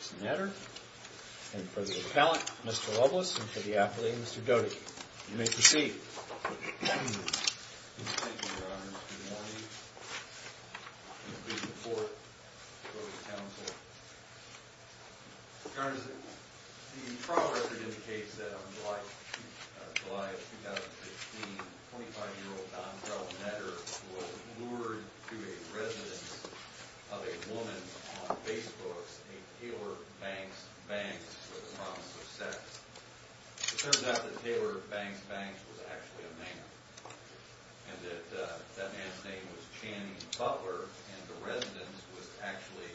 And for the appellant, Mr. Loveless, and for the athlete, Mr. Doty. You may proceed. Thank you, Your Honor. Good morning. I'm pleased to report to Doty's counsel. Your Honor, the trial record indicates that on July of 2016, a 25-year-old Don Carl Netter was lured to a residence of a woman on Facebook, a Taylor Banks Banks with a promise of sex. It turns out that Taylor Banks Banks was actually a man, and that man's name was Channing Butler, and the residence was actually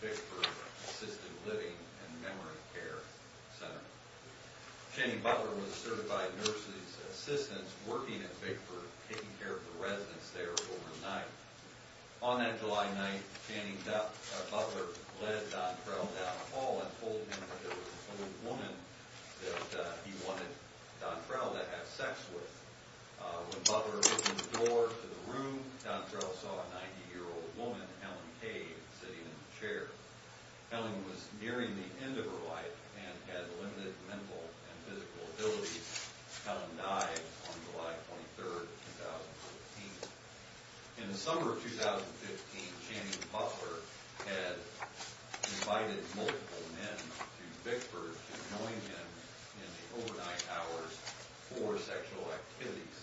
the Bigford Assisted Living and Memory Care Center. Channing Butler was a certified nurse's assistant working at Bigford, taking care of the residence there overnight. On that July night, Channing Butler led Don Trowell down a hall and told him that there was an old woman that he wanted Don Trowell to have sex with. When Butler opened the door to the room, Don Trowell saw a 90-year-old woman, Helen Kay, sitting in a chair. Helen was nearing the end of her life and had limited mental and physical ability. Helen died on July 23, 2014. In the summer of 2015, Channing Butler had invited multiple men to Bigford to join him in the overnight hours for sexual activities.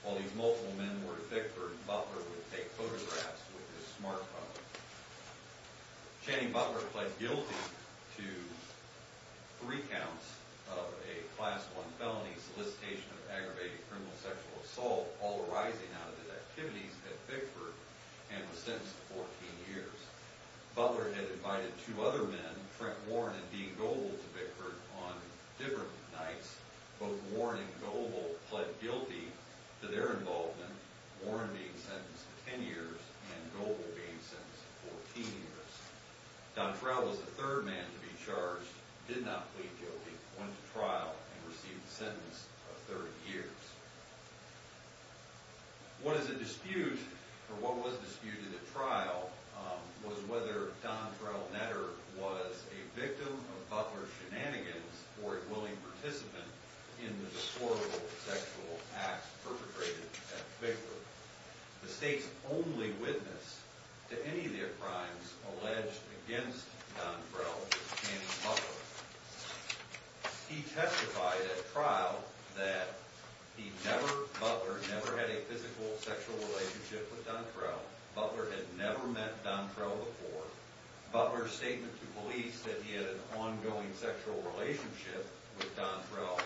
While these multiple men were at Bigford, Butler would take photographs with his smartphone. Channing Butler pled guilty to three counts of a Class I felony, solicitation of aggravated criminal sexual assault, all arising out of his activities at Bigford, and was sentenced to 14 years. Butler had invited two other men, Frank Warren and Dean Goble, to Bigford on different nights. Both Warren and Goble pled guilty to their involvement. Warren being sentenced to 10 years and Goble being sentenced to 14 years. Don Trowell was the third man to be charged, did not plead guilty, went to trial, and received a sentence of 30 years. What is at dispute, or what was disputed at trial, was whether Don Trowell Netter was a victim of Butler's shenanigans or a willing participant in the deplorable sexual acts perpetrated at Bigford. The state's only witness to any of their crimes alleged against Don Trowell was Channing Butler. He testified at trial that he never, Butler never had a physical sexual relationship with Don Trowell. Butler had never met Don Trowell before. Butler's statement to police that he had an ongoing sexual relationship with Don Trowell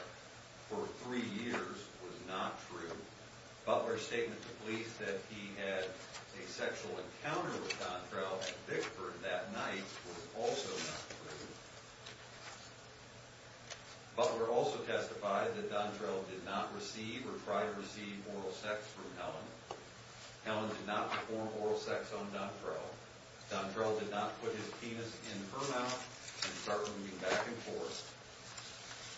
for three years was not true. Butler's statement to police that he had a sexual encounter with Don Trowell at Bigford that night was also not true. Butler also testified that Don Trowell did not receive or try to receive oral sex from Helen. Helen did not perform oral sex on Don Trowell. Don Trowell did not put his penis in her mouth and start moving back and forth.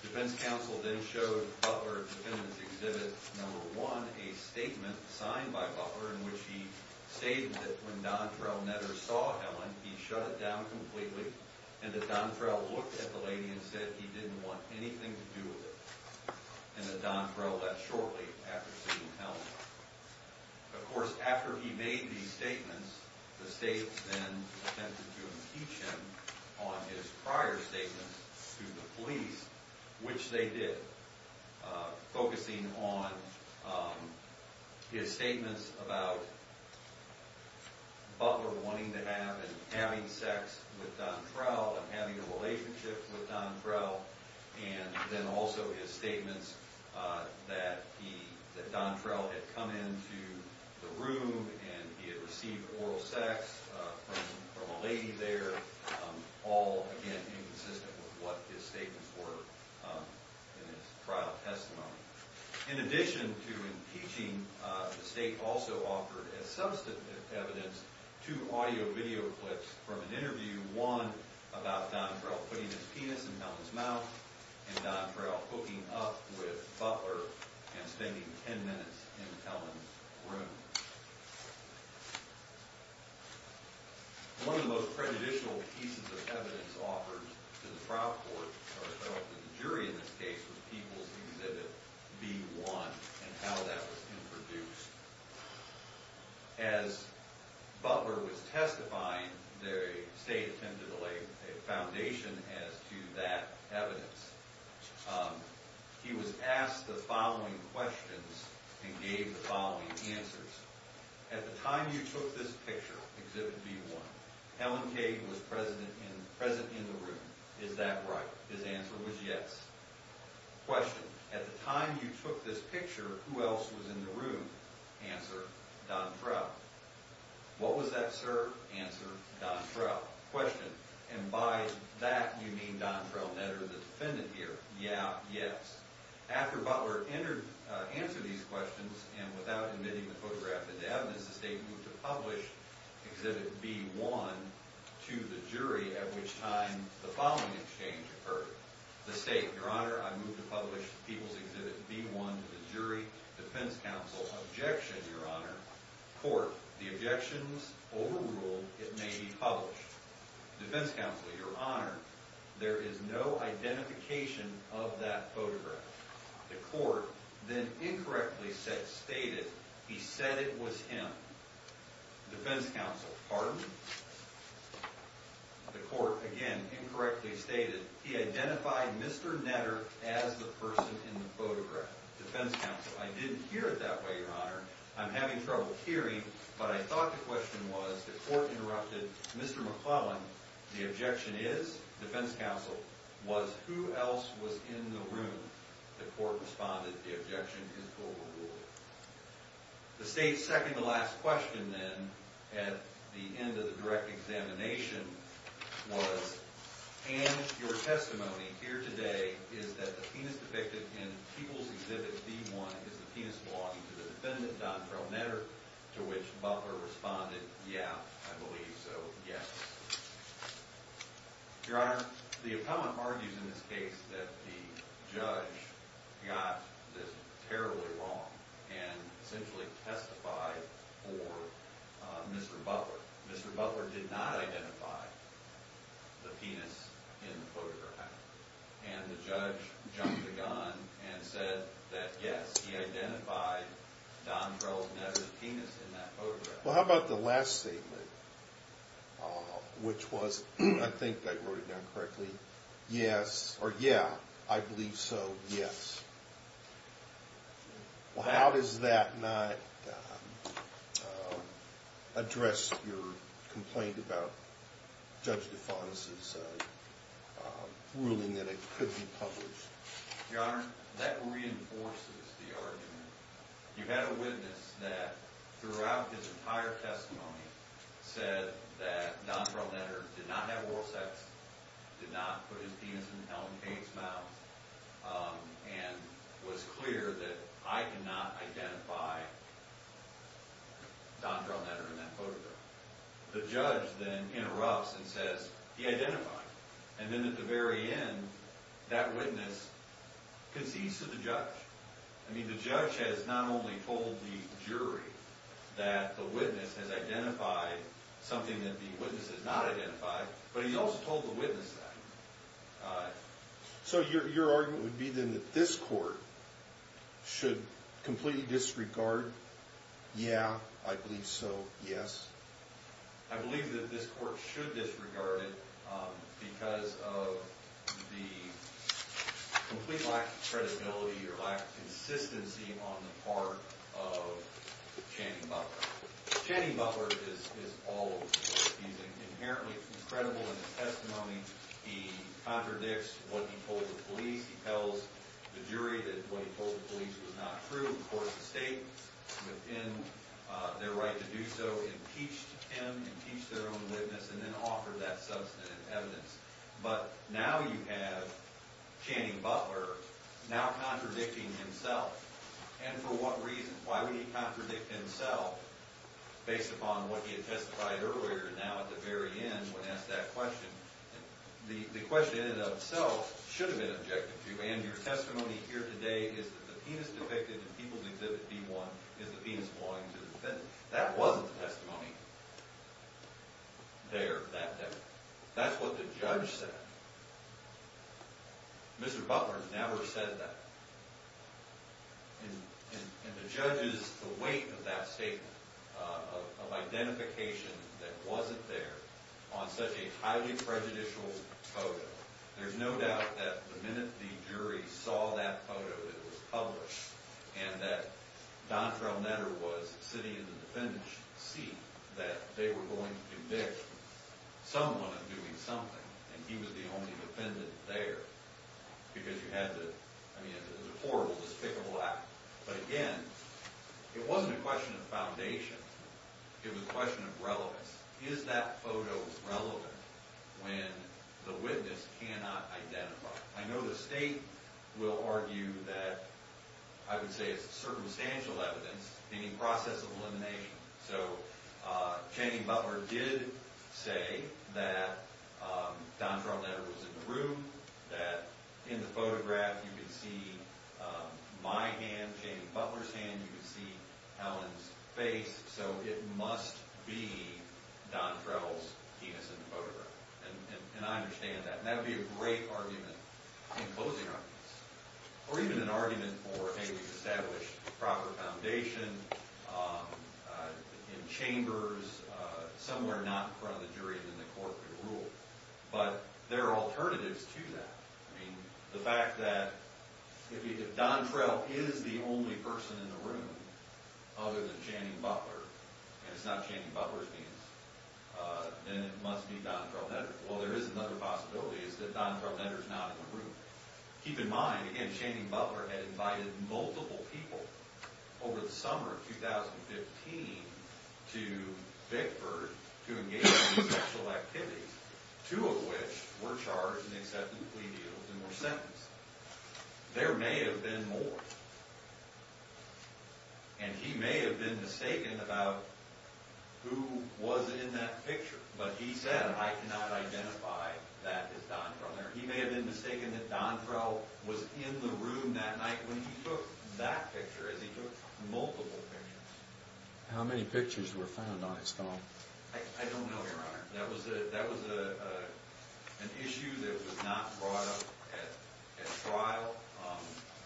Defense counsel then showed Butler at the defendant's exhibit number one a statement signed by Butler in which he stated that when Don Trowell Netter saw Helen, he shut it down completely, and that Don Trowell looked at the lady and said he didn't want anything to do with her. And that Don Trowell left shortly after seeing Helen. Of course, after he made these statements, the state then attempted to impeach him on his prior statements to the police, which they did, focusing on his statements about Butler wanting to have and having sex with Don Trowell and having a relationship with Don Trowell, and then also his statements that Don Trowell had come into the room and he had received oral sex from a lady there, all, again, inconsistent with what his statements were in his trial testimony. In addition to impeaching, the state also offered as substantive evidence two audio-video clips from an interview, one about Don Trowell putting his penis in Helen's mouth and Don Trowell hooking up with Butler and spending ten minutes in Helen's room. One of the most prejudicial pieces of evidence offered to the trial court, or the jury in this case, was People's Exhibit B-1 and how that was introduced. As Butler was testifying, the state attempted to lay a foundation as to that evidence. He was asked the following questions and gave the following answers. At the time you took this picture, Exhibit B-1, Helen Cade was present in the room. Is that right? His answer was yes. Question, at the time you took this picture, who else was in the room? Answer, Don Trowell. What was that serve? Answer, Don Trowell. Question, and by that you mean Don Trowell Netter, the defendant here? Yeah, yes. After Butler answered these questions and without admitting the photograph as evidence, the state moved to publish Exhibit B-1 to the jury, at which time the following exchange occurred. The state, Your Honor, I move to publish People's Exhibit B-1 to the jury. Defense counsel, objection, Your Honor. Court, the objection is overruled. It may be published. Defense counsel, Your Honor, there is no identification of that photograph. The court then incorrectly stated he said it was him. Defense counsel, pardon? The court, again, incorrectly stated he identified Mr. Netter as the person in the photograph. Defense counsel, I didn't hear it that way, Your Honor. I'm having trouble hearing, but I thought the question was the court interrupted Mr. McClellan. The objection is, defense counsel, was who else was in the room? The court responded, the objection is overruled. The state's second to last question then at the end of the direct examination was, and your testimony here today is that the penis depicted in People's Exhibit B-1 is the penis belonging to the defendant, Don Terrell Netter, to which Butler responded, yeah, I believe so, yes. Your Honor, the opponent argues in this case that the judge got this terribly wrong and essentially testified for Mr. Butler. Mr. Butler did not identify the penis in the photograph, and the judge jumped the gun and said that yes, he identified Don Terrell Netter's penis in that photograph. Well, how about the last statement, which was, I think I wrote it down correctly, yes, or yeah, I believe so, yes. Well, how does that not address your complaint about Judge DeFantis' ruling that it could be published? Your Honor, that reinforces the argument. You had a witness that throughout his entire testimony said that Don Terrell Netter did not have oral sex, did not put his penis in Helen Kane's mouth, and was clear that I cannot identify Don Terrell Netter in that photograph. The judge then interrupts and says, he identified, and then at the very end, that witness concedes to the judge. I mean, the judge has not only told the jury that the witness has identified something that the witness has not identified, but he's also told the witness that. So your argument would be then that this court should completely disregard, yeah, I believe so, yes? I believe that this court should disregard it because of the complete lack of credibility or lack of consistency on the part of Channing Butler. Channing Butler is all over the place. He's inherently incredible in his testimony. He contradicts what he told the police. He tells the jury that what he told the police was not true. Of course, the state, within their right to do so, impeached him, impeached their own witness, and then offered that substantive evidence. But now you have Channing Butler now contradicting himself. And for what reason? Why would he contradict himself based upon what he had testified earlier? Now at the very end, when asked that question, the question in and of itself should have been objected to. And your testimony here today is that the penis depicted in People's Exhibit D-1 is the penis belonging to the defendant. That wasn't the testimony there that day. That's what the judge said. Mr. Butler never said that. And the judge's weight of that statement, of identification that wasn't there, on such a highly prejudicial photo, there's no doubt that the minute the jury saw that photo that was published, and that Don Travnetter was sitting in the defendant's seat, that they were going to convict someone of doing something. And he was the only defendant there. Because you had to, I mean, it was a horrible, despicable act. But again, it wasn't a question of foundation. It was a question of relevance. Is that photo relevant when the witness cannot identify? I know the state will argue that, I would say it's circumstantial evidence, any process of elimination. So Channing Butler did say that Don Travnetter was in the room, that in the photograph you could see my hand, Channing Butler's hand, you could see Helen's face, so it must be Don Travnetter's penis in the photograph. And I understand that. And that would be a great argument in closing arguments. Or even an argument for, hey, we've established proper foundation in chambers, somewhere not in front of the jury than the court could rule. But there are alternatives to that. I mean, the fact that if Don Trav is the only person in the room other than Channing Butler, and it's not Channing Butler's penis, then it must be Don Travnetter's. Well, there is another possibility, it's that Don Travnetter's not in the room. Keep in mind, again, Channing Butler had invited multiple people over the summer of 2015 to Vickford to engage in sexual activities, two of which were charged and accepted plea deals and were sentenced. There may have been more. And he may have been mistaken about who was in that picture. But he said, I cannot identify that as Don Travnetter. He may have been mistaken that Don Trav was in the room that night when he took that picture, as he took multiple pictures. How many pictures were found on his phone? I don't know, Your Honor. That was an issue that was not brought up at trial.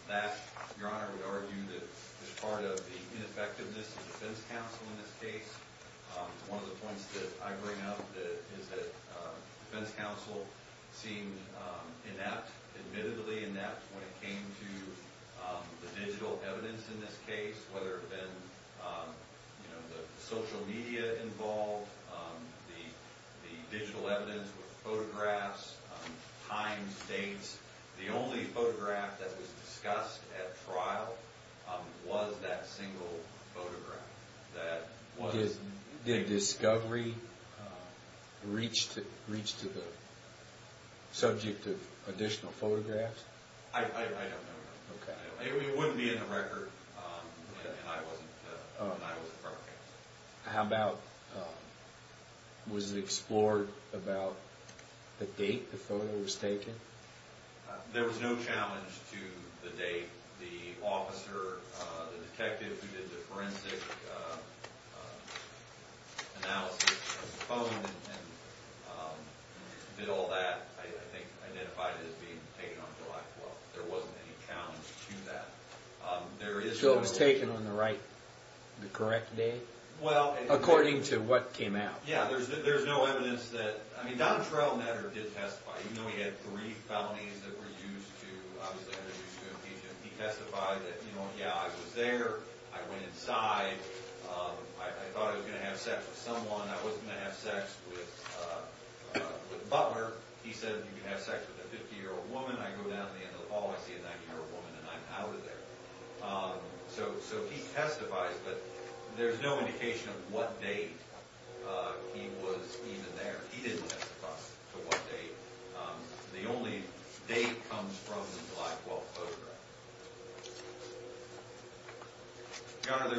That, Your Honor, would argue that is part of the ineffectiveness of defense counsel in this case. One of the points that I bring up is that defense counsel seemed inept, admittedly inept, when it came to the digital evidence in this case, whether it had been the social media involved, the digital evidence with photographs, times, dates. The only photograph that was discussed at trial was that single photograph. Did discovery reach to the subject of additional photographs? I don't know, Your Honor. It wouldn't be in the record, and I wasn't part of it. How about, was it explored about the date the photo was taken? There was no challenge to the date. The officer, the detective who did the forensic analysis of the phone and did all that, I think, identified it as being taken on July 12th. There wasn't any challenge to that. So it was taken on the right, the correct date, according to what came out? Yeah, there's no evidence that, I mean, Don Travnetter did testify, even though he had three felonies that were used to, obviously, to impeach him. He testified that, you know, yeah, I was there, I went inside, I thought I was going to have sex with someone. I wasn't going to have sex with Butler. He said you can have sex with a 50-year-old woman. I go down at the end of the hall, I see a 90-year-old woman, and I'm out of there. So he testified, but there's no indication of what date he was even there. He didn't testify to what date. The only date comes from the July 12th photograph. Your Honor,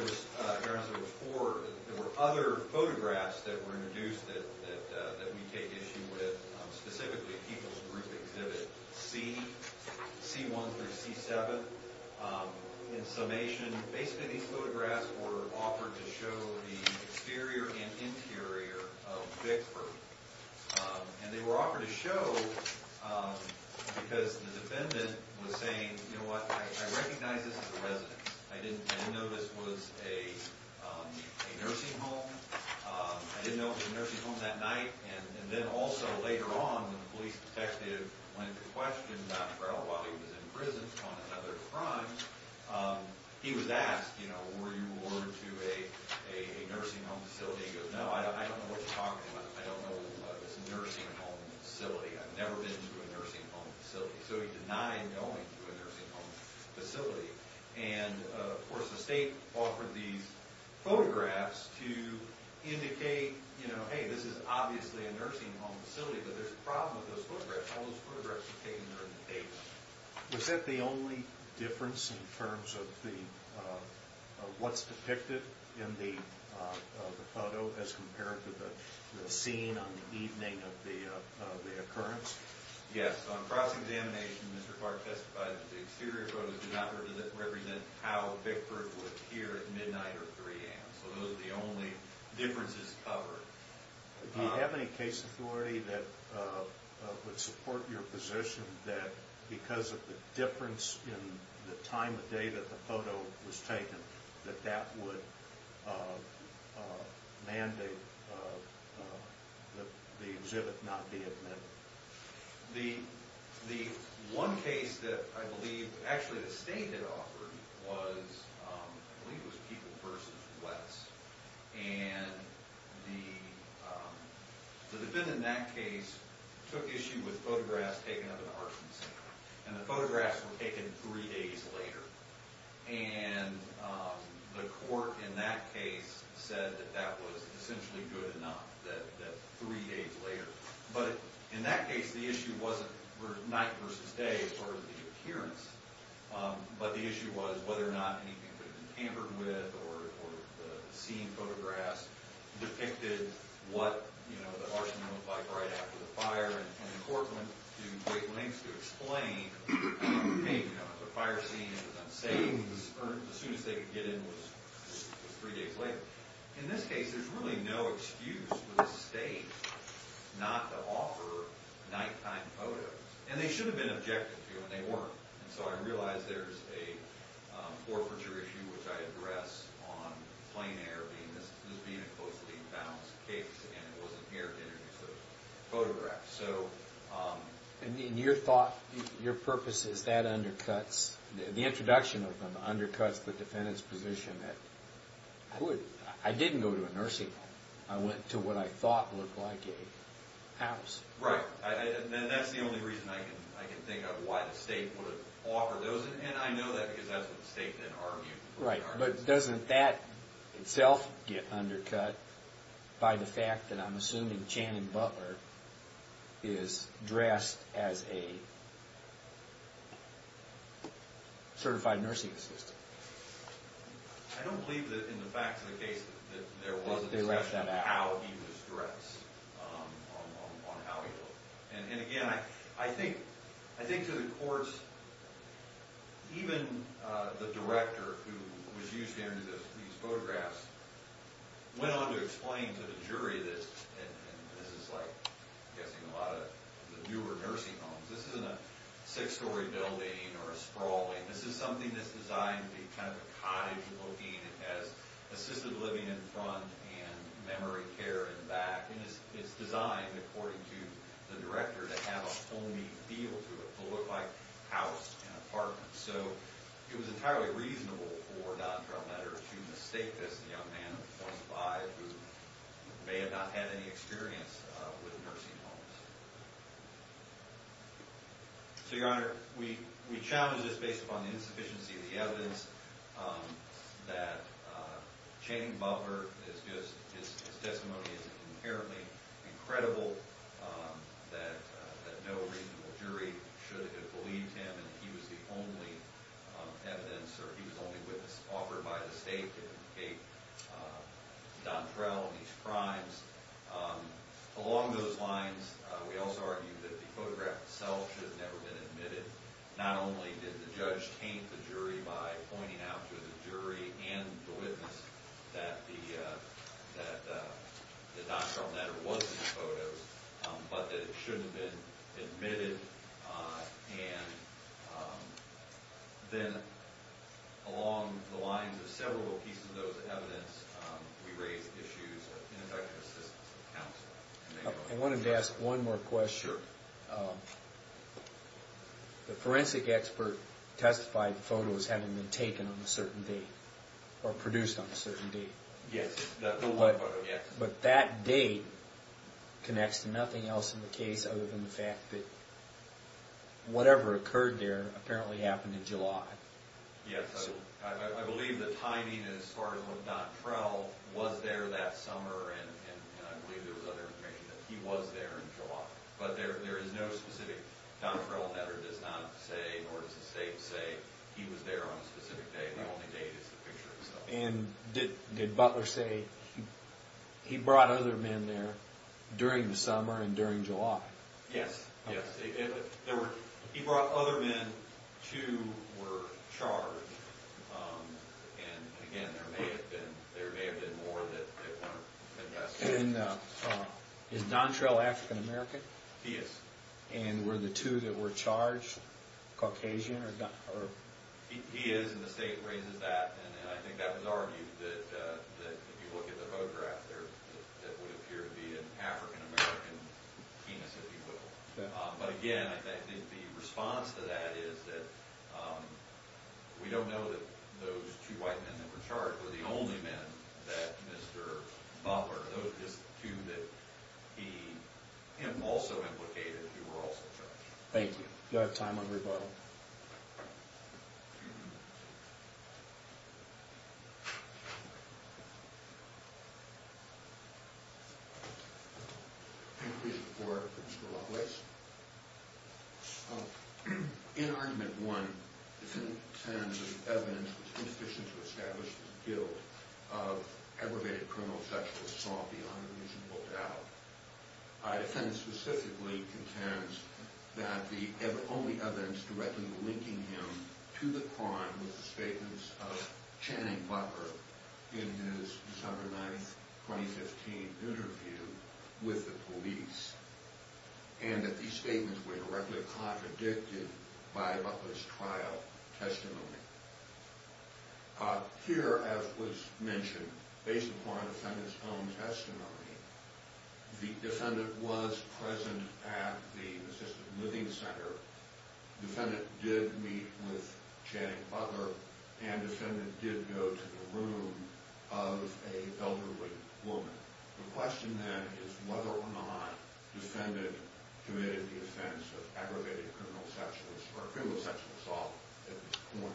there were other photographs that were introduced that we take issue with, specifically People's Group Exhibit C, C-1 through C-7. In summation, basically these photographs were offered to show the exterior and interior of Vickford. And they were offered to show because the defendant was saying, you know what, I recognize this is a residence. I didn't know this was a nursing home. I didn't know it was a nursing home that night. And then also later on when the police detective went to question Dr. Ell while he was in prison on another crime, he was asked, you know, were you ordered to a nursing home facility? He goes, no, I don't know what you're talking about. I don't know what this nursing home facility is. I've never been to a nursing home facility. So he denied going to a nursing home facility. And, of course, the state offered these photographs to indicate, you know, hey, this is obviously a nursing home facility, but there's a problem with those photographs. All those photographs were taken during the day. Was that the only difference in terms of what's depicted in the photo as compared to the scene on the evening of the occurrence? Yes. On cross-examination, Mr. Clark testified that the exterior photos do not represent how Vickford would appear at midnight or 3 a.m. So those are the only differences covered. Do you have any case authority that would support your position that because of the difference in the time of day that the photo was taken, that that would mandate that the exhibit not be at midnight? The one case that I believe actually the state had offered was, I believe it was People vs. West. And the defendant in that case took issue with photographs taken of an arson scene. And the photographs were taken three days later. And the court in that case said that that was essentially good enough, that three days later. But in that case, the issue wasn't night versus day as far as the appearance, but the issue was whether or not anything could have been tampered with or the scene photographs depicted what, you know, the arson looked like right after the fire. And the court went to great lengths to explain, hey, you know, if a fire scene is unsafe, the soonest they could get in was three days later. In this case, there's really no excuse for the state not to offer nighttime photos. And they should have been objected to, and they weren't. And so I realize there's a forfeiture issue, which I address on plain air, this being a closely balanced case, and it wasn't here to introduce those photographs. And your thought, your purpose is that undercuts, the introduction of them undercuts the defendant's position that, I didn't go to a nursing home. I went to what I thought looked like a house. Right. And that's the only reason I can think of why the state would have offered those. And I know that because that's what the state then argued. Right. But doesn't that itself get undercut by the fact that I'm assuming Channing Butler is dressed as a certified nursing assistant? I don't believe that in the facts of the case that there was a discussion of how he was dressed, on how he looked. And again, I think to the courts, even the director who was used to entering these photographs went on to explain to the jury this, and this is like, I'm guessing, a lot of the newer nursing homes. This isn't a six-story building or a sprawling. This is something that's designed to be kind of a cottage looking. It has assisted living in front and memory care in the back. And it's designed, according to the director, to have a homey feel to it, to look like a house, an apartment. So it was entirely reasonable for Dodd-Trump letter to mistake this young man of 25 who may have not had any experience with nursing homes. So, Your Honor, we challenge this based upon the insufficiency of the evidence that Channing Butler is just – his testimony is inherently incredible, that no reasonable jury should have believed him, and he was the only evidence, or he was the only witness offered by the state to indicate Don Terrell and his crimes. Along those lines, we also argue that the photograph itself should have never been admitted. Not only did the judge taint the jury by pointing out to the jury and the witness that the Dodd-Trump letter was in the photos, but that it shouldn't have been admitted. And then along the lines of several pieces of those evidence, we raise issues of ineffective assistance of counsel. I wanted to ask one more question. Sure. The forensic expert testified the photos hadn't been taken on a certain date, or produced on a certain date. Yes, that one photo, yes. But that date connects to nothing else in the case other than the fact that whatever occurred there apparently happened in July. Yes, I believe the timing as far as Don Terrell was there that summer, and I believe there was other information that he was there in July. But there is no specific – Don Terrell's letter does not say, nor does the state say, he was there on a specific date. The only date is the picture itself. And did Butler say he brought other men there during the summer and during July? Yes, yes. He brought other men who were charged, and again, there may have been more that weren't investigated. And is Don Terrell African American? He is. And were the two that were charged Caucasian? He is, and the state raises that. And I think that was argued that if you look at the photograph there, that would appear to be an African American penis, if you will. But again, I think the response to that is that we don't know that those two white men that were charged were the only men that Mr. Butler – those were just two that he – him also implicated, who were also charged. Thank you. Do I have time on rebuttal? Thank you. In Argument 1, defendant contends that the evidence was insufficient to establish the guilt of aggravated criminal sexual assault beyond a reasonable doubt. Defendant specifically contends that the only evidence directly linking him to the crime was the statements of Channing Butler in his December 9, 2015 interview with the police, and that these statements were directly contradicted by Butler's trial testimony. Here, as was mentioned, based upon the defendant's own testimony, the defendant was present at the assisted living center. The defendant did meet with Channing Butler, and the defendant did go to the room of an elderly woman. The question, then, is whether or not the defendant committed the offense of aggravated criminal sexual assault at this point.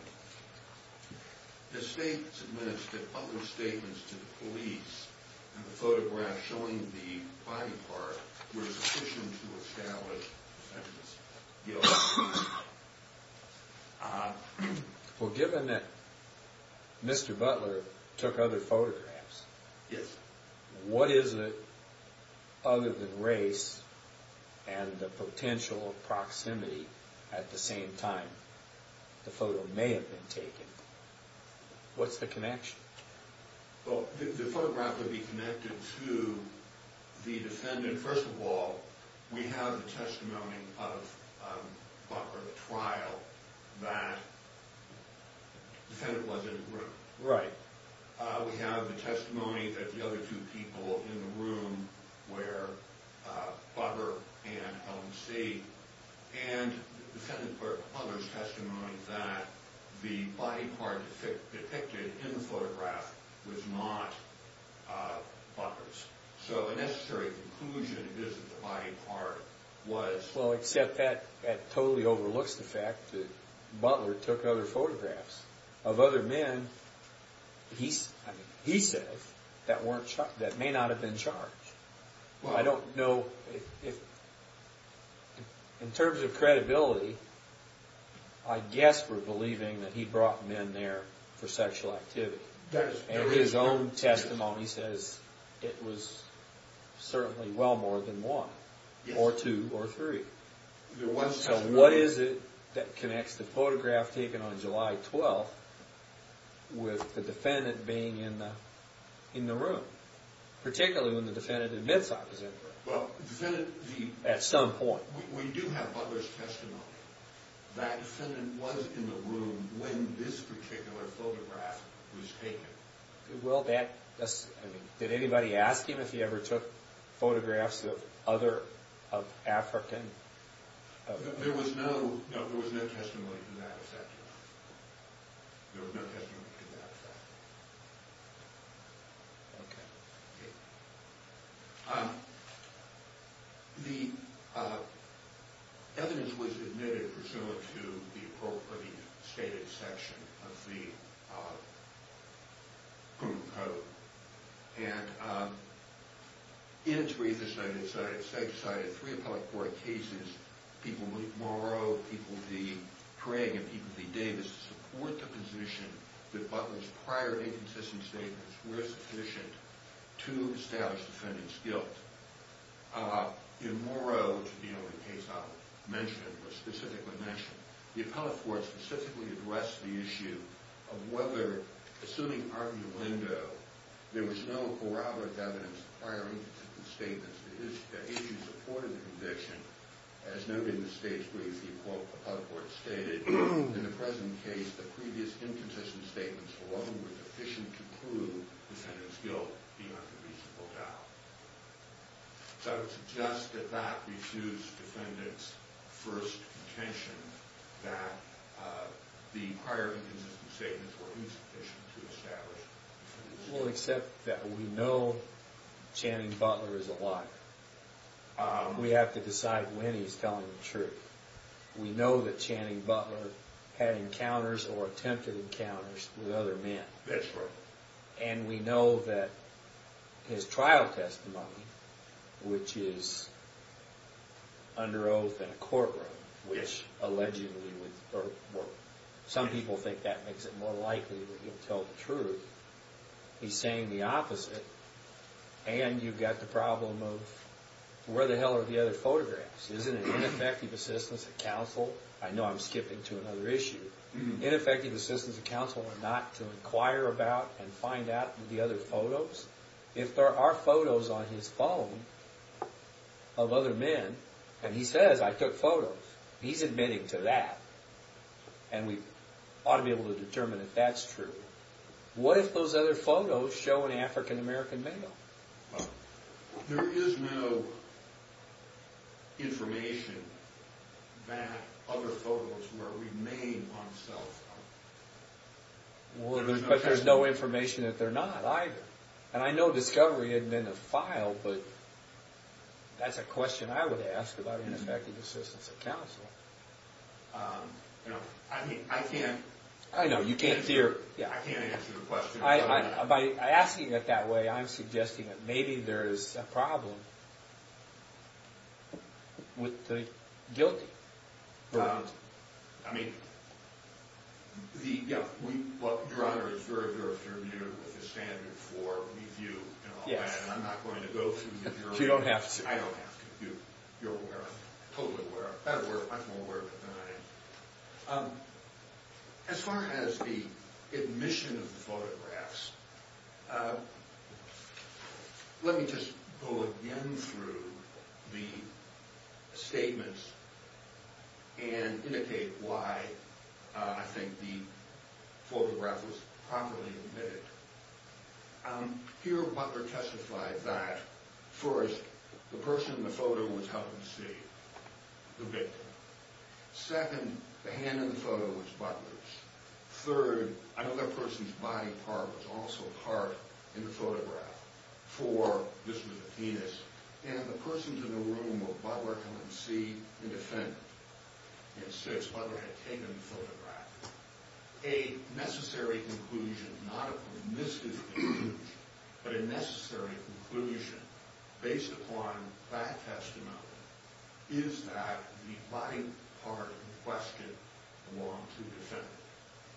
The state submitted other statements to the police, and the photographs showing the body part were sufficient to establish the defendant's guilt. Well, given that Mr. Butler took other photographs – Yes. What is it, other than race and the potential proximity, at the same time the photo may have been taken? What's the connection? Well, the photograph would be connected to the defendant. First of all, we have the testimony of Butler at the trial that the defendant was in the room. Right. We have the testimony that the other two people in the room were Butler and Helen C. And the defendant, Butler's testimony that the body part depicted in the photograph was not Butler's. So a necessary conclusion is that the body part was – He said that may not have been charged. I don't know if – in terms of credibility, I guess we're believing that he brought men there for sexual activity. And his own testimony says it was certainly well more than one, or two, or three. So what is it that connects the photograph taken on July 12th with the defendant being in the room? Particularly when the defendant admits opposite. Well, the defendant – At some point. We do have Butler's testimony. That defendant was in the room when this particular photograph was taken. Well, that – did anybody ask him if he ever took photographs of other – of African – There was no – no, there was no testimony to that effect. There was no testimony to that effect. Okay. The evidence was admitted pursuant to the appropriate stated section of the criminal code. And in its briefest, I decided three appellate court cases, people – Morrow, people D. Craig, and people D. Davis, support the position that Butler's prior inconsistent statements were sufficient to establish the defendant's guilt. In Morrow, which is the only case I'll mention or specifically mention, the appellate court specifically addressed the issue of whether, assuming argument of Lindo, there was no corroborative evidence of prior inconsistent statements. The issue supported the conviction. As noted in the stage brief, the appellate court stated, in the present case, the previous inconsistent statements alone were sufficient to prove the defendant's guilt beyond a reasonable doubt. So I would suggest that that refutes defendant's first contention that the prior inconsistent statements were insufficient to establish the defendant's guilt. Well, except that we know Channing Butler is a liar. We have to decide when he's telling the truth. We know that Channing Butler had encounters or attempted encounters with other men. That's right. And we know that his trial testimony, which is under oath in a courtroom, which allegedly would – some people think that makes it more likely that he'll tell the truth. He's saying the opposite. And you've got the problem of where the hell are the other photographs? Isn't it ineffective assistance of counsel? I know I'm skipping to another issue. Isn't it ineffective assistance of counsel not to inquire about and find out the other photos? If there are photos on his phone of other men, and he says, I took photos, he's admitting to that. And we ought to be able to determine if that's true. What if those other photos show an African-American male? There is no information that other photos will remain on his cell phone. But there's no information that they're not either. And I know discovery isn't in the file, but that's a question I would ask about ineffective assistance of counsel. I mean, I can't – I know, you can't – I can't answer the question. By asking it that way, I'm suggesting that maybe there's a problem with the guilty. I mean, the – yeah. Your Honor is very, very familiar with the standard for review and all that. And I'm not going to go through your – You don't have to. I don't have to. You're aware of it. Totally aware of it. I'm aware of it than I am. As far as the admission of the photographs, let me just go again through the statements and indicate why I think the photograph was properly admitted. Here, Butler testified that, first, the person in the photo was helping to see the victim. Second, the hand in the photo was Butler's. Third, another person's body part was also part in the photograph. Four, this was a penis. And the persons in the room were Butler, come and see the defendant. And six, Butler had taken the photograph. A necessary conclusion, not a permissive conclusion, but a necessary conclusion based upon that testimony is that the body part in question belongs to the defendant.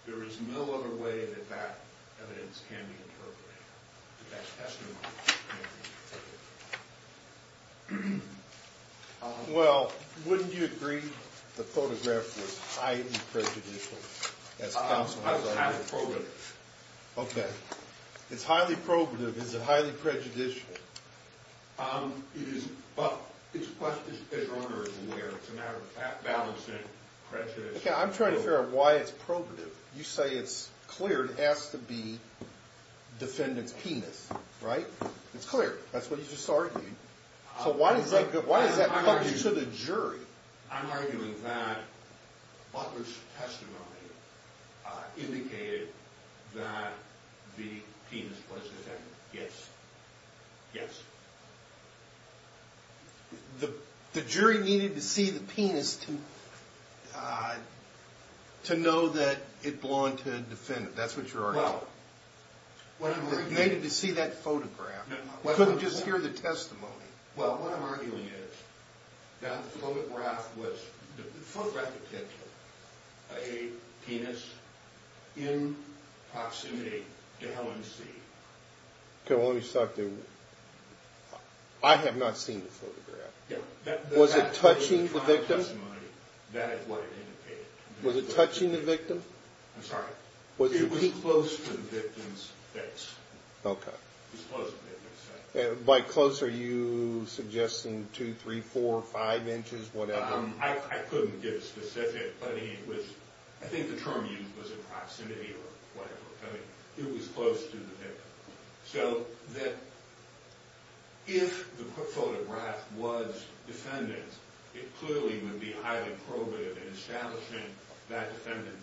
There is no other way that that evidence can be interpreted, that that testimony can be interpreted. Well, wouldn't you agree the photograph was highly prejudicial as counsel has argued? It's highly probative. Okay. It's highly probative. Is it highly prejudicial? It is. But it's a question that the owner is aware of. It's a matter of balance and prejudice. Okay. I'm trying to figure out why it's probative. You say it's clear. It has to be defendant's penis, right? It's clear. That's what he's just arguing. So why does that come to the jury? I'm arguing that Butler's testimony indicated that the penis was defendant. Yes. Yes. The jury needed to see the penis to know that it belonged to a defendant. That's what you're arguing. Well. They needed to see that photograph. Couldn't just hear the testimony. Well, what I'm arguing is that the photograph was a penis in proximity to Helen's feet. Okay. Well, let me stop there. I have not seen the photograph. Was it touching the victim? That is what it indicated. Was it touching the victim? I'm sorry. It was close to the victim's face. Okay. It was close to the victim's face. By close, are you suggesting two, three, four, five inches, whatever? I couldn't give a specific. I think the term used was a proximity or whatever. I mean, it was close to the victim. So if the photograph was defendant, it clearly would be highly probative in establishing that defendant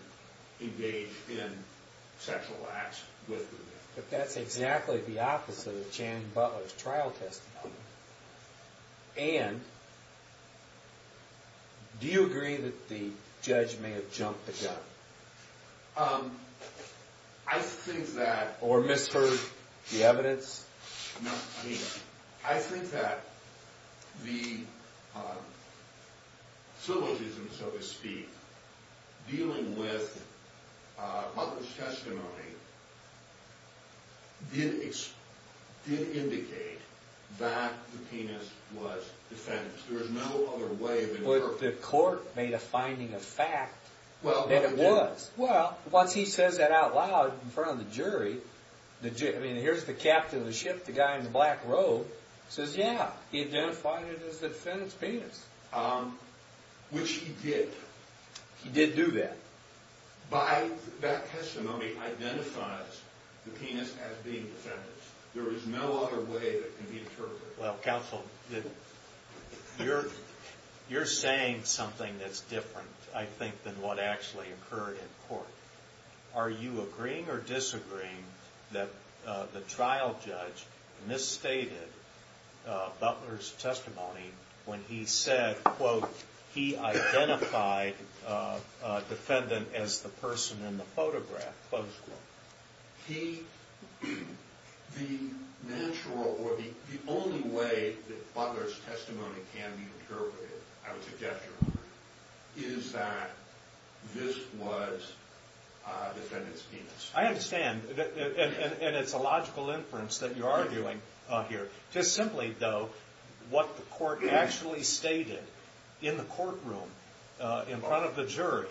engaged in sexual acts with the victim. But that's exactly the opposite of Chan and Butler's trial testimony. And do you agree that the judge may have jumped the gun? I think that. Or misheard the evidence? No. I mean, I think that the syllogism, so to speak, dealing with Butler's testimony did indicate that the penis was defendant. There was no other way of inferring. But the court made a finding of fact that it was. Well, once he says that out loud in front of the jury, I mean, here's the captain of the ship, the guy in the black robe. He says, yeah, he identified it as the defendant's penis. Which he did. He did do that. By that testimony identifies the penis as being defendant's. There was no other way that can be interpreted. Counsel, you're saying something that's different, I think, than what actually occurred in court. Are you agreeing or disagreeing that the trial judge misstated Butler's testimony when he said, quote, he identified defendant as the person in the photograph, close quote? The only way that Butler's testimony can be interpreted, I would suggest, is that this was defendant's penis. I understand. And it's a logical inference that you are doing here. Just simply, though, what the court actually stated in the courtroom in front of the jury,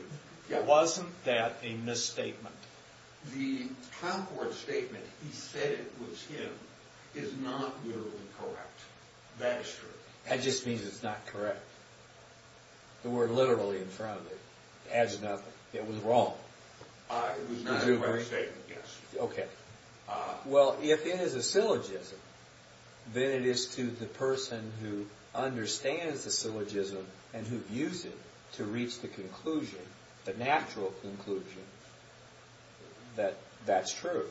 wasn't that a misstatement? The count court statement, he said it was him, is not literally correct. That is true. That just means it's not correct. The word literally in front of it adds nothing. It was wrong. It was not a correct statement, yes. Okay. Well, if it is a syllogism, then it is to the person who understands the syllogism and who views it to reach the conclusion, the natural conclusion, that that's true.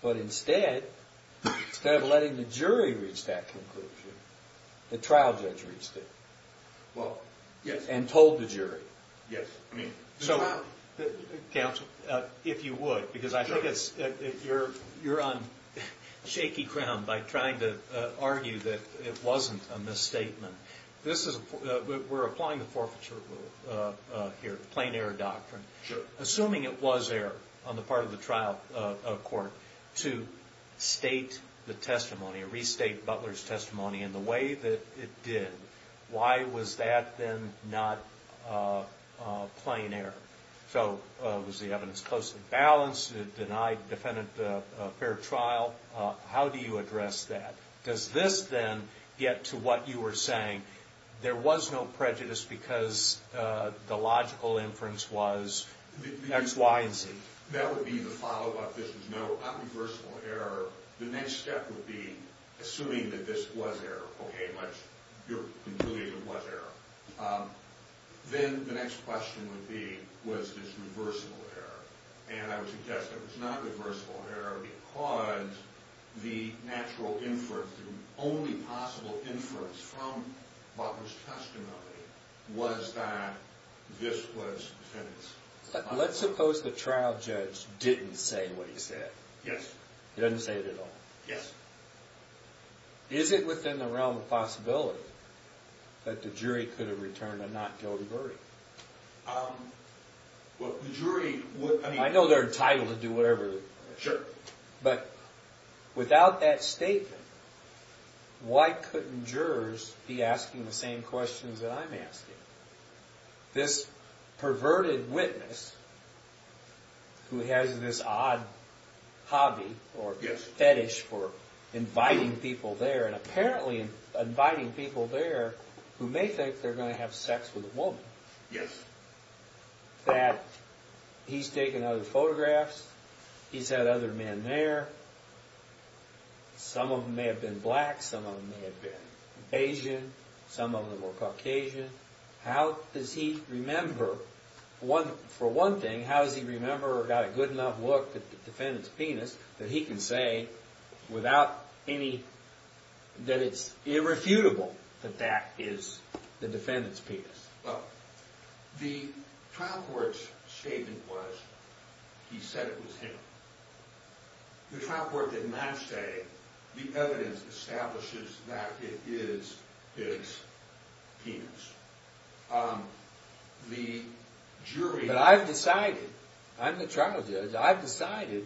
But instead, instead of letting the jury reach that conclusion, the trial judge reached it and told the jury. Yes. Counsel, if you would, because I think you're on shaky ground by trying to argue that it wasn't a misstatement. We're applying the forfeiture rule here, plain error doctrine. Sure. Assuming it was error on the part of the trial court to state the testimony, restate Butler's testimony in the way that it did, why was that then not plain error? So was the evidence closely balanced? Did it deny the defendant a fair trial? How do you address that? Does this then get to what you were saying? There was no prejudice because the logical inference was X, Y, and Z. That would be the follow-up. This was no unreversible error. The next step would be assuming that this was error. Okay, but your conclusion was error. Then the next question would be, was this reversible error? And I would suggest that it was not reversible error because the natural inference, the only possible inference from Butler's testimony, was that this was defendant's. Let's suppose the trial judge didn't say what he said. Yes. He doesn't say it at all. Yes. Is it within the realm of possibility that the jury could have returned a not guilty verdict? Well, the jury would be— I know they're entitled to do whatever— Sure. But without that statement, why couldn't jurors be asking the same questions that I'm asking? This perverted witness who has this odd hobby or fetish for inviting people there, and apparently inviting people there who may think they're going to have sex with a woman, that he's taken other photographs, he's had other men there, some of them may have been black, some of them may have been Asian, some of them were Caucasian. How does he remember—for one thing, how does he remember or got a good enough look at the defendant's penis that he can say without any—that it's irrefutable that that is the defendant's penis? Well, the trial court's statement was he said it was him. The trial court did not say the evidence establishes that it is his penis. The jury— But I've decided, I'm the trial judge, I've decided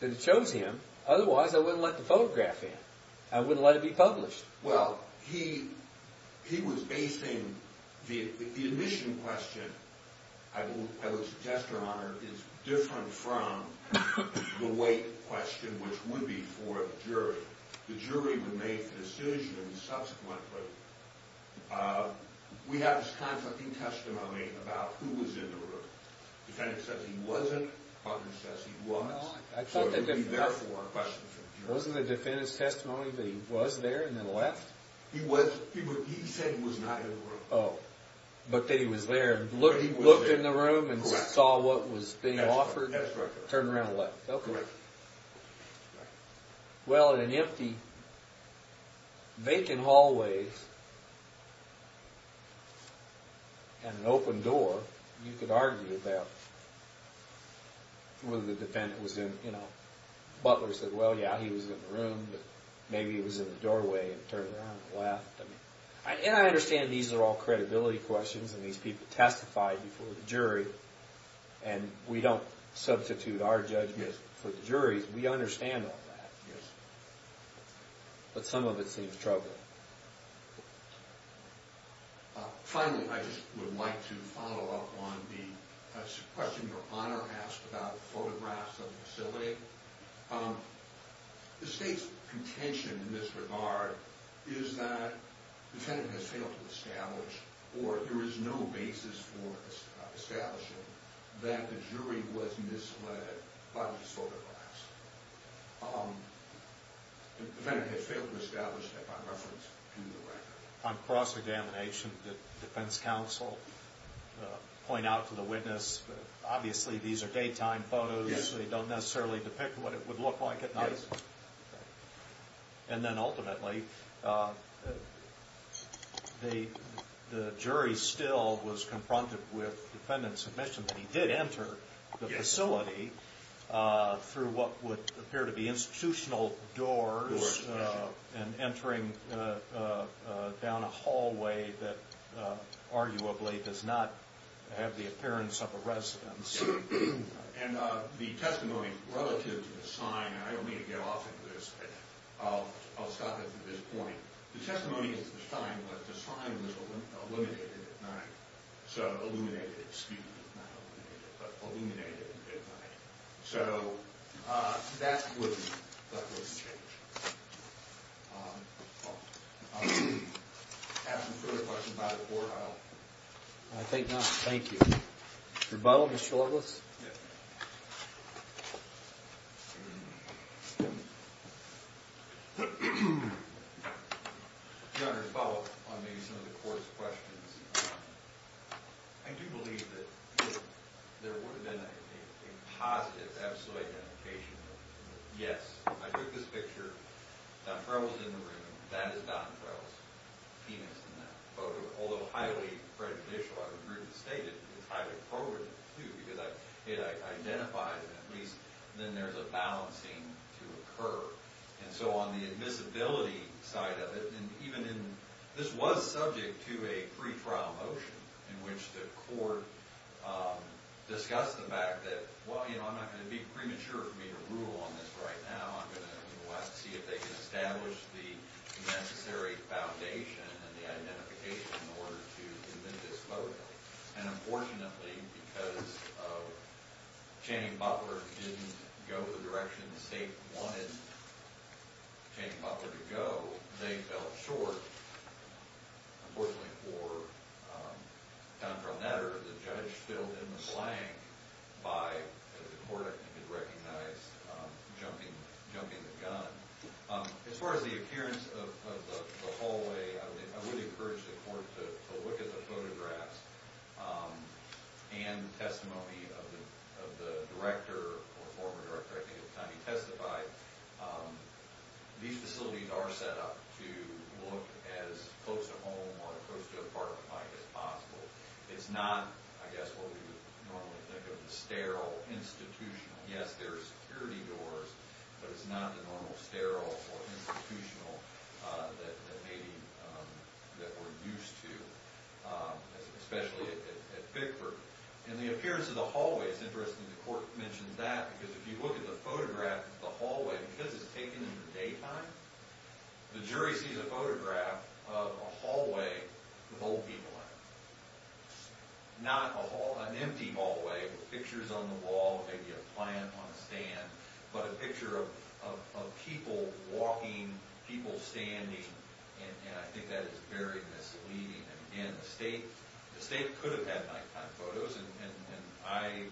that it shows him. Otherwise, I wouldn't let the photograph in. I wouldn't let it be published. Well, he was basing—the admission question, I would suggest, Your Honor, is different from the weight question, which would be for the jury. The jury would make the decision subsequently. We have this conflicting testimony about who was in the room. The defendant says he wasn't, but who says he was. So it would be, therefore, a question for the jury. Wasn't the defendant's testimony that he was there and then left? He was—he said he was not in the room. Oh, but that he was there and looked in the room and saw what was being offered? That's correct. Turned around and left. Correct. Well, in an empty, vacant hallway and an open door, you could argue about whether the defendant was in. Butler said, well, yeah, he was in the room, but maybe he was in the doorway and turned around and left. And I understand these are all credibility questions, and these people testified before the jury, and we don't substitute our judgment for the jury's. We understand all that. But some of it seems troubling. Finally, I just would like to follow up on the question your Honor asked about photographs of the facility. The State's contention in this regard is that the defendant has failed to establish, or there is no basis for establishing, that the jury was misled by these photographs. The defendant has failed to establish that by reference to the record. On cross-examination, the defense counsel point out to the witness, obviously these are daytime photos so they don't necessarily depict what it would look like at night. Yes. And then ultimately, the jury still was confronted with the defendant's admission that he did enter the facility through what would appear to be institutional doors, and entering down a hallway that arguably does not have the appearance of a residence. And the testimony relative to the sign, and I don't mean to get off of this, but I'll stop at this point. The testimony is to the sign, but the sign was illuminated at night. So illuminated, excuse me, not illuminated, but illuminated at night. So that wouldn't change. I'll ask some further questions about it before I'll... I think not, thank you. Rebuttal, Mr. Loveless? Yes. Your Honor, to follow up on maybe some of the court's questions, I do believe that there would have been a positive, absolute identification. Yes, I took this picture, Don Frewell's in the room, that is Don Frewell's penis in that photo. Although highly prejudicial, I would agree with the state, it's highly progressive, too, because it identifies, at least, then there's a balancing to occur. And so on the admissibility side of it, and even in... This was subject to a pretrial motion in which the court discussed the fact that, well, you know, I'm not going to be premature for me to rule on this right now. I'm going to have to see if they can establish the necessary foundation and the identification in order to invent this photo. And unfortunately, because Channing Poplar didn't go the direction the state wanted Channing Poplar to go, they fell short. Unfortunately for Don Frewell Netter, the judge filled in the blank by, as the court, I think, had recognized, jumping the gun. As far as the appearance of the hallway, I would encourage the court to look at the photographs and testimony of the director, or former director, I think at the time he testified. These facilities are set up to look as close to home or close to apartment-like as possible. It's not, I guess, what we would normally think of as sterile, institutional. Yes, there are security doors, but it's not the normal sterile or institutional that we're used to, especially at Bigford. And the appearance of the hallway, it's interesting the court mentions that because if you look at the photograph of the hallway, because it's taken in the daytime, the jury sees a photograph of a hallway with old people in it. Not an empty hallway with pictures on the wall, maybe a plant on a stand, but a picture of people walking, people standing, and I think that is very misleading. Again, the state could have had nighttime photos, and I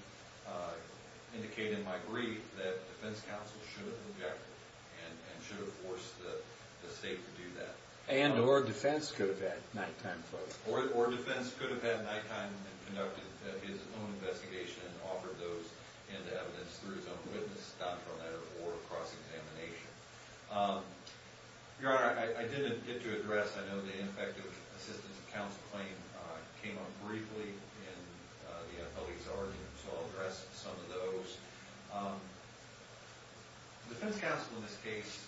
indicate in my brief that defense counsel should have objected and should have forced the state to do that. And or defense could have had nighttime photos. Or defense could have had nighttime and conducted his own investigation and offered those into evidence through his own witness, doctoral letter, or cross-examination. Your Honor, I didn't get to address, I know the Infective Assistance Counsel claim came up briefly in the attorney's argument, so I'll address some of those. Defense counsel in this case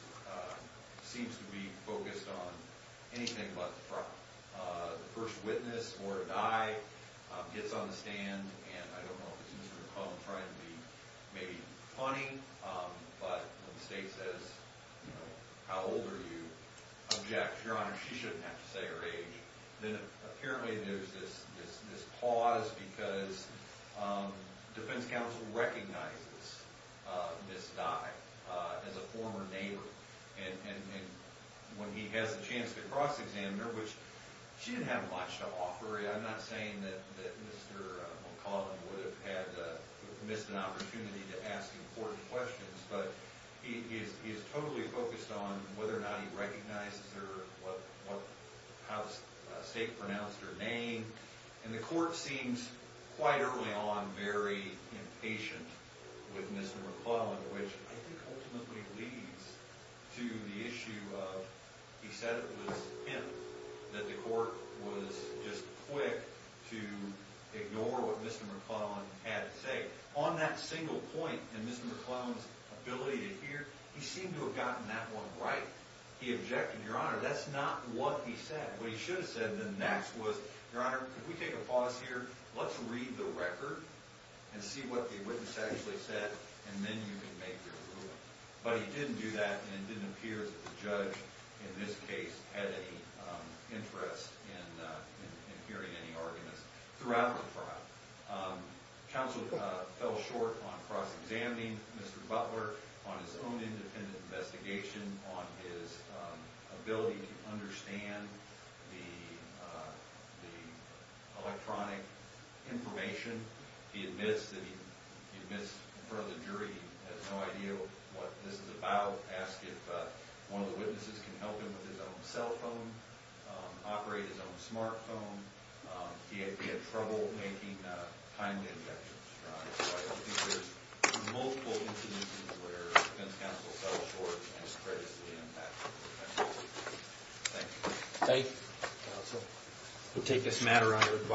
seems to be focused on anything but the front. The first witness or a guy gets on the stand, and I don't know if it's Mr. McClellan trying to be maybe funny, but when the state says, you know, how old are you, objects, Your Honor, she shouldn't have to say her age. Then apparently there's this pause because defense counsel recognizes Ms. Dye as a former neighbor. And when he has a chance to cross-examine her, which she didn't have much to offer. I'm not saying that Mr. McClellan would have missed an opportunity to ask important questions, but he is totally focused on whether or not he recognizes her, what house, state pronounced her name. And the court seems quite early on very impatient with Mr. McClellan, which I think ultimately leads to the issue of he said it was him that the court was just quick to ignore what Mr. McClellan had to say. On that single point in Mr. McClellan's ability to hear, he seemed to have gotten that one right. He objected, Your Honor, that's not what he said. What he should have said then next was, Your Honor, could we take a pause here? Let's read the record and see what the witness actually said, and then you can make your ruling. But he didn't do that, and it didn't appear that the judge in this case had any interest in hearing any arguments throughout the trial. Counsel fell short on cross-examining Mr. Butler on his own independent investigation, on his ability to understand the electronic information. He admits that he admits in front of the jury he has no idea what this is about, asked if one of the witnesses can help him with his own cell phone, operate his own smart phone. He had trouble making time to get to his trial, so I don't think there's multiple instances where a defense counsel fell short and is credited to the impact of the defense counsel. Thank you. Thank you, counsel. We'll take this matter under advisory.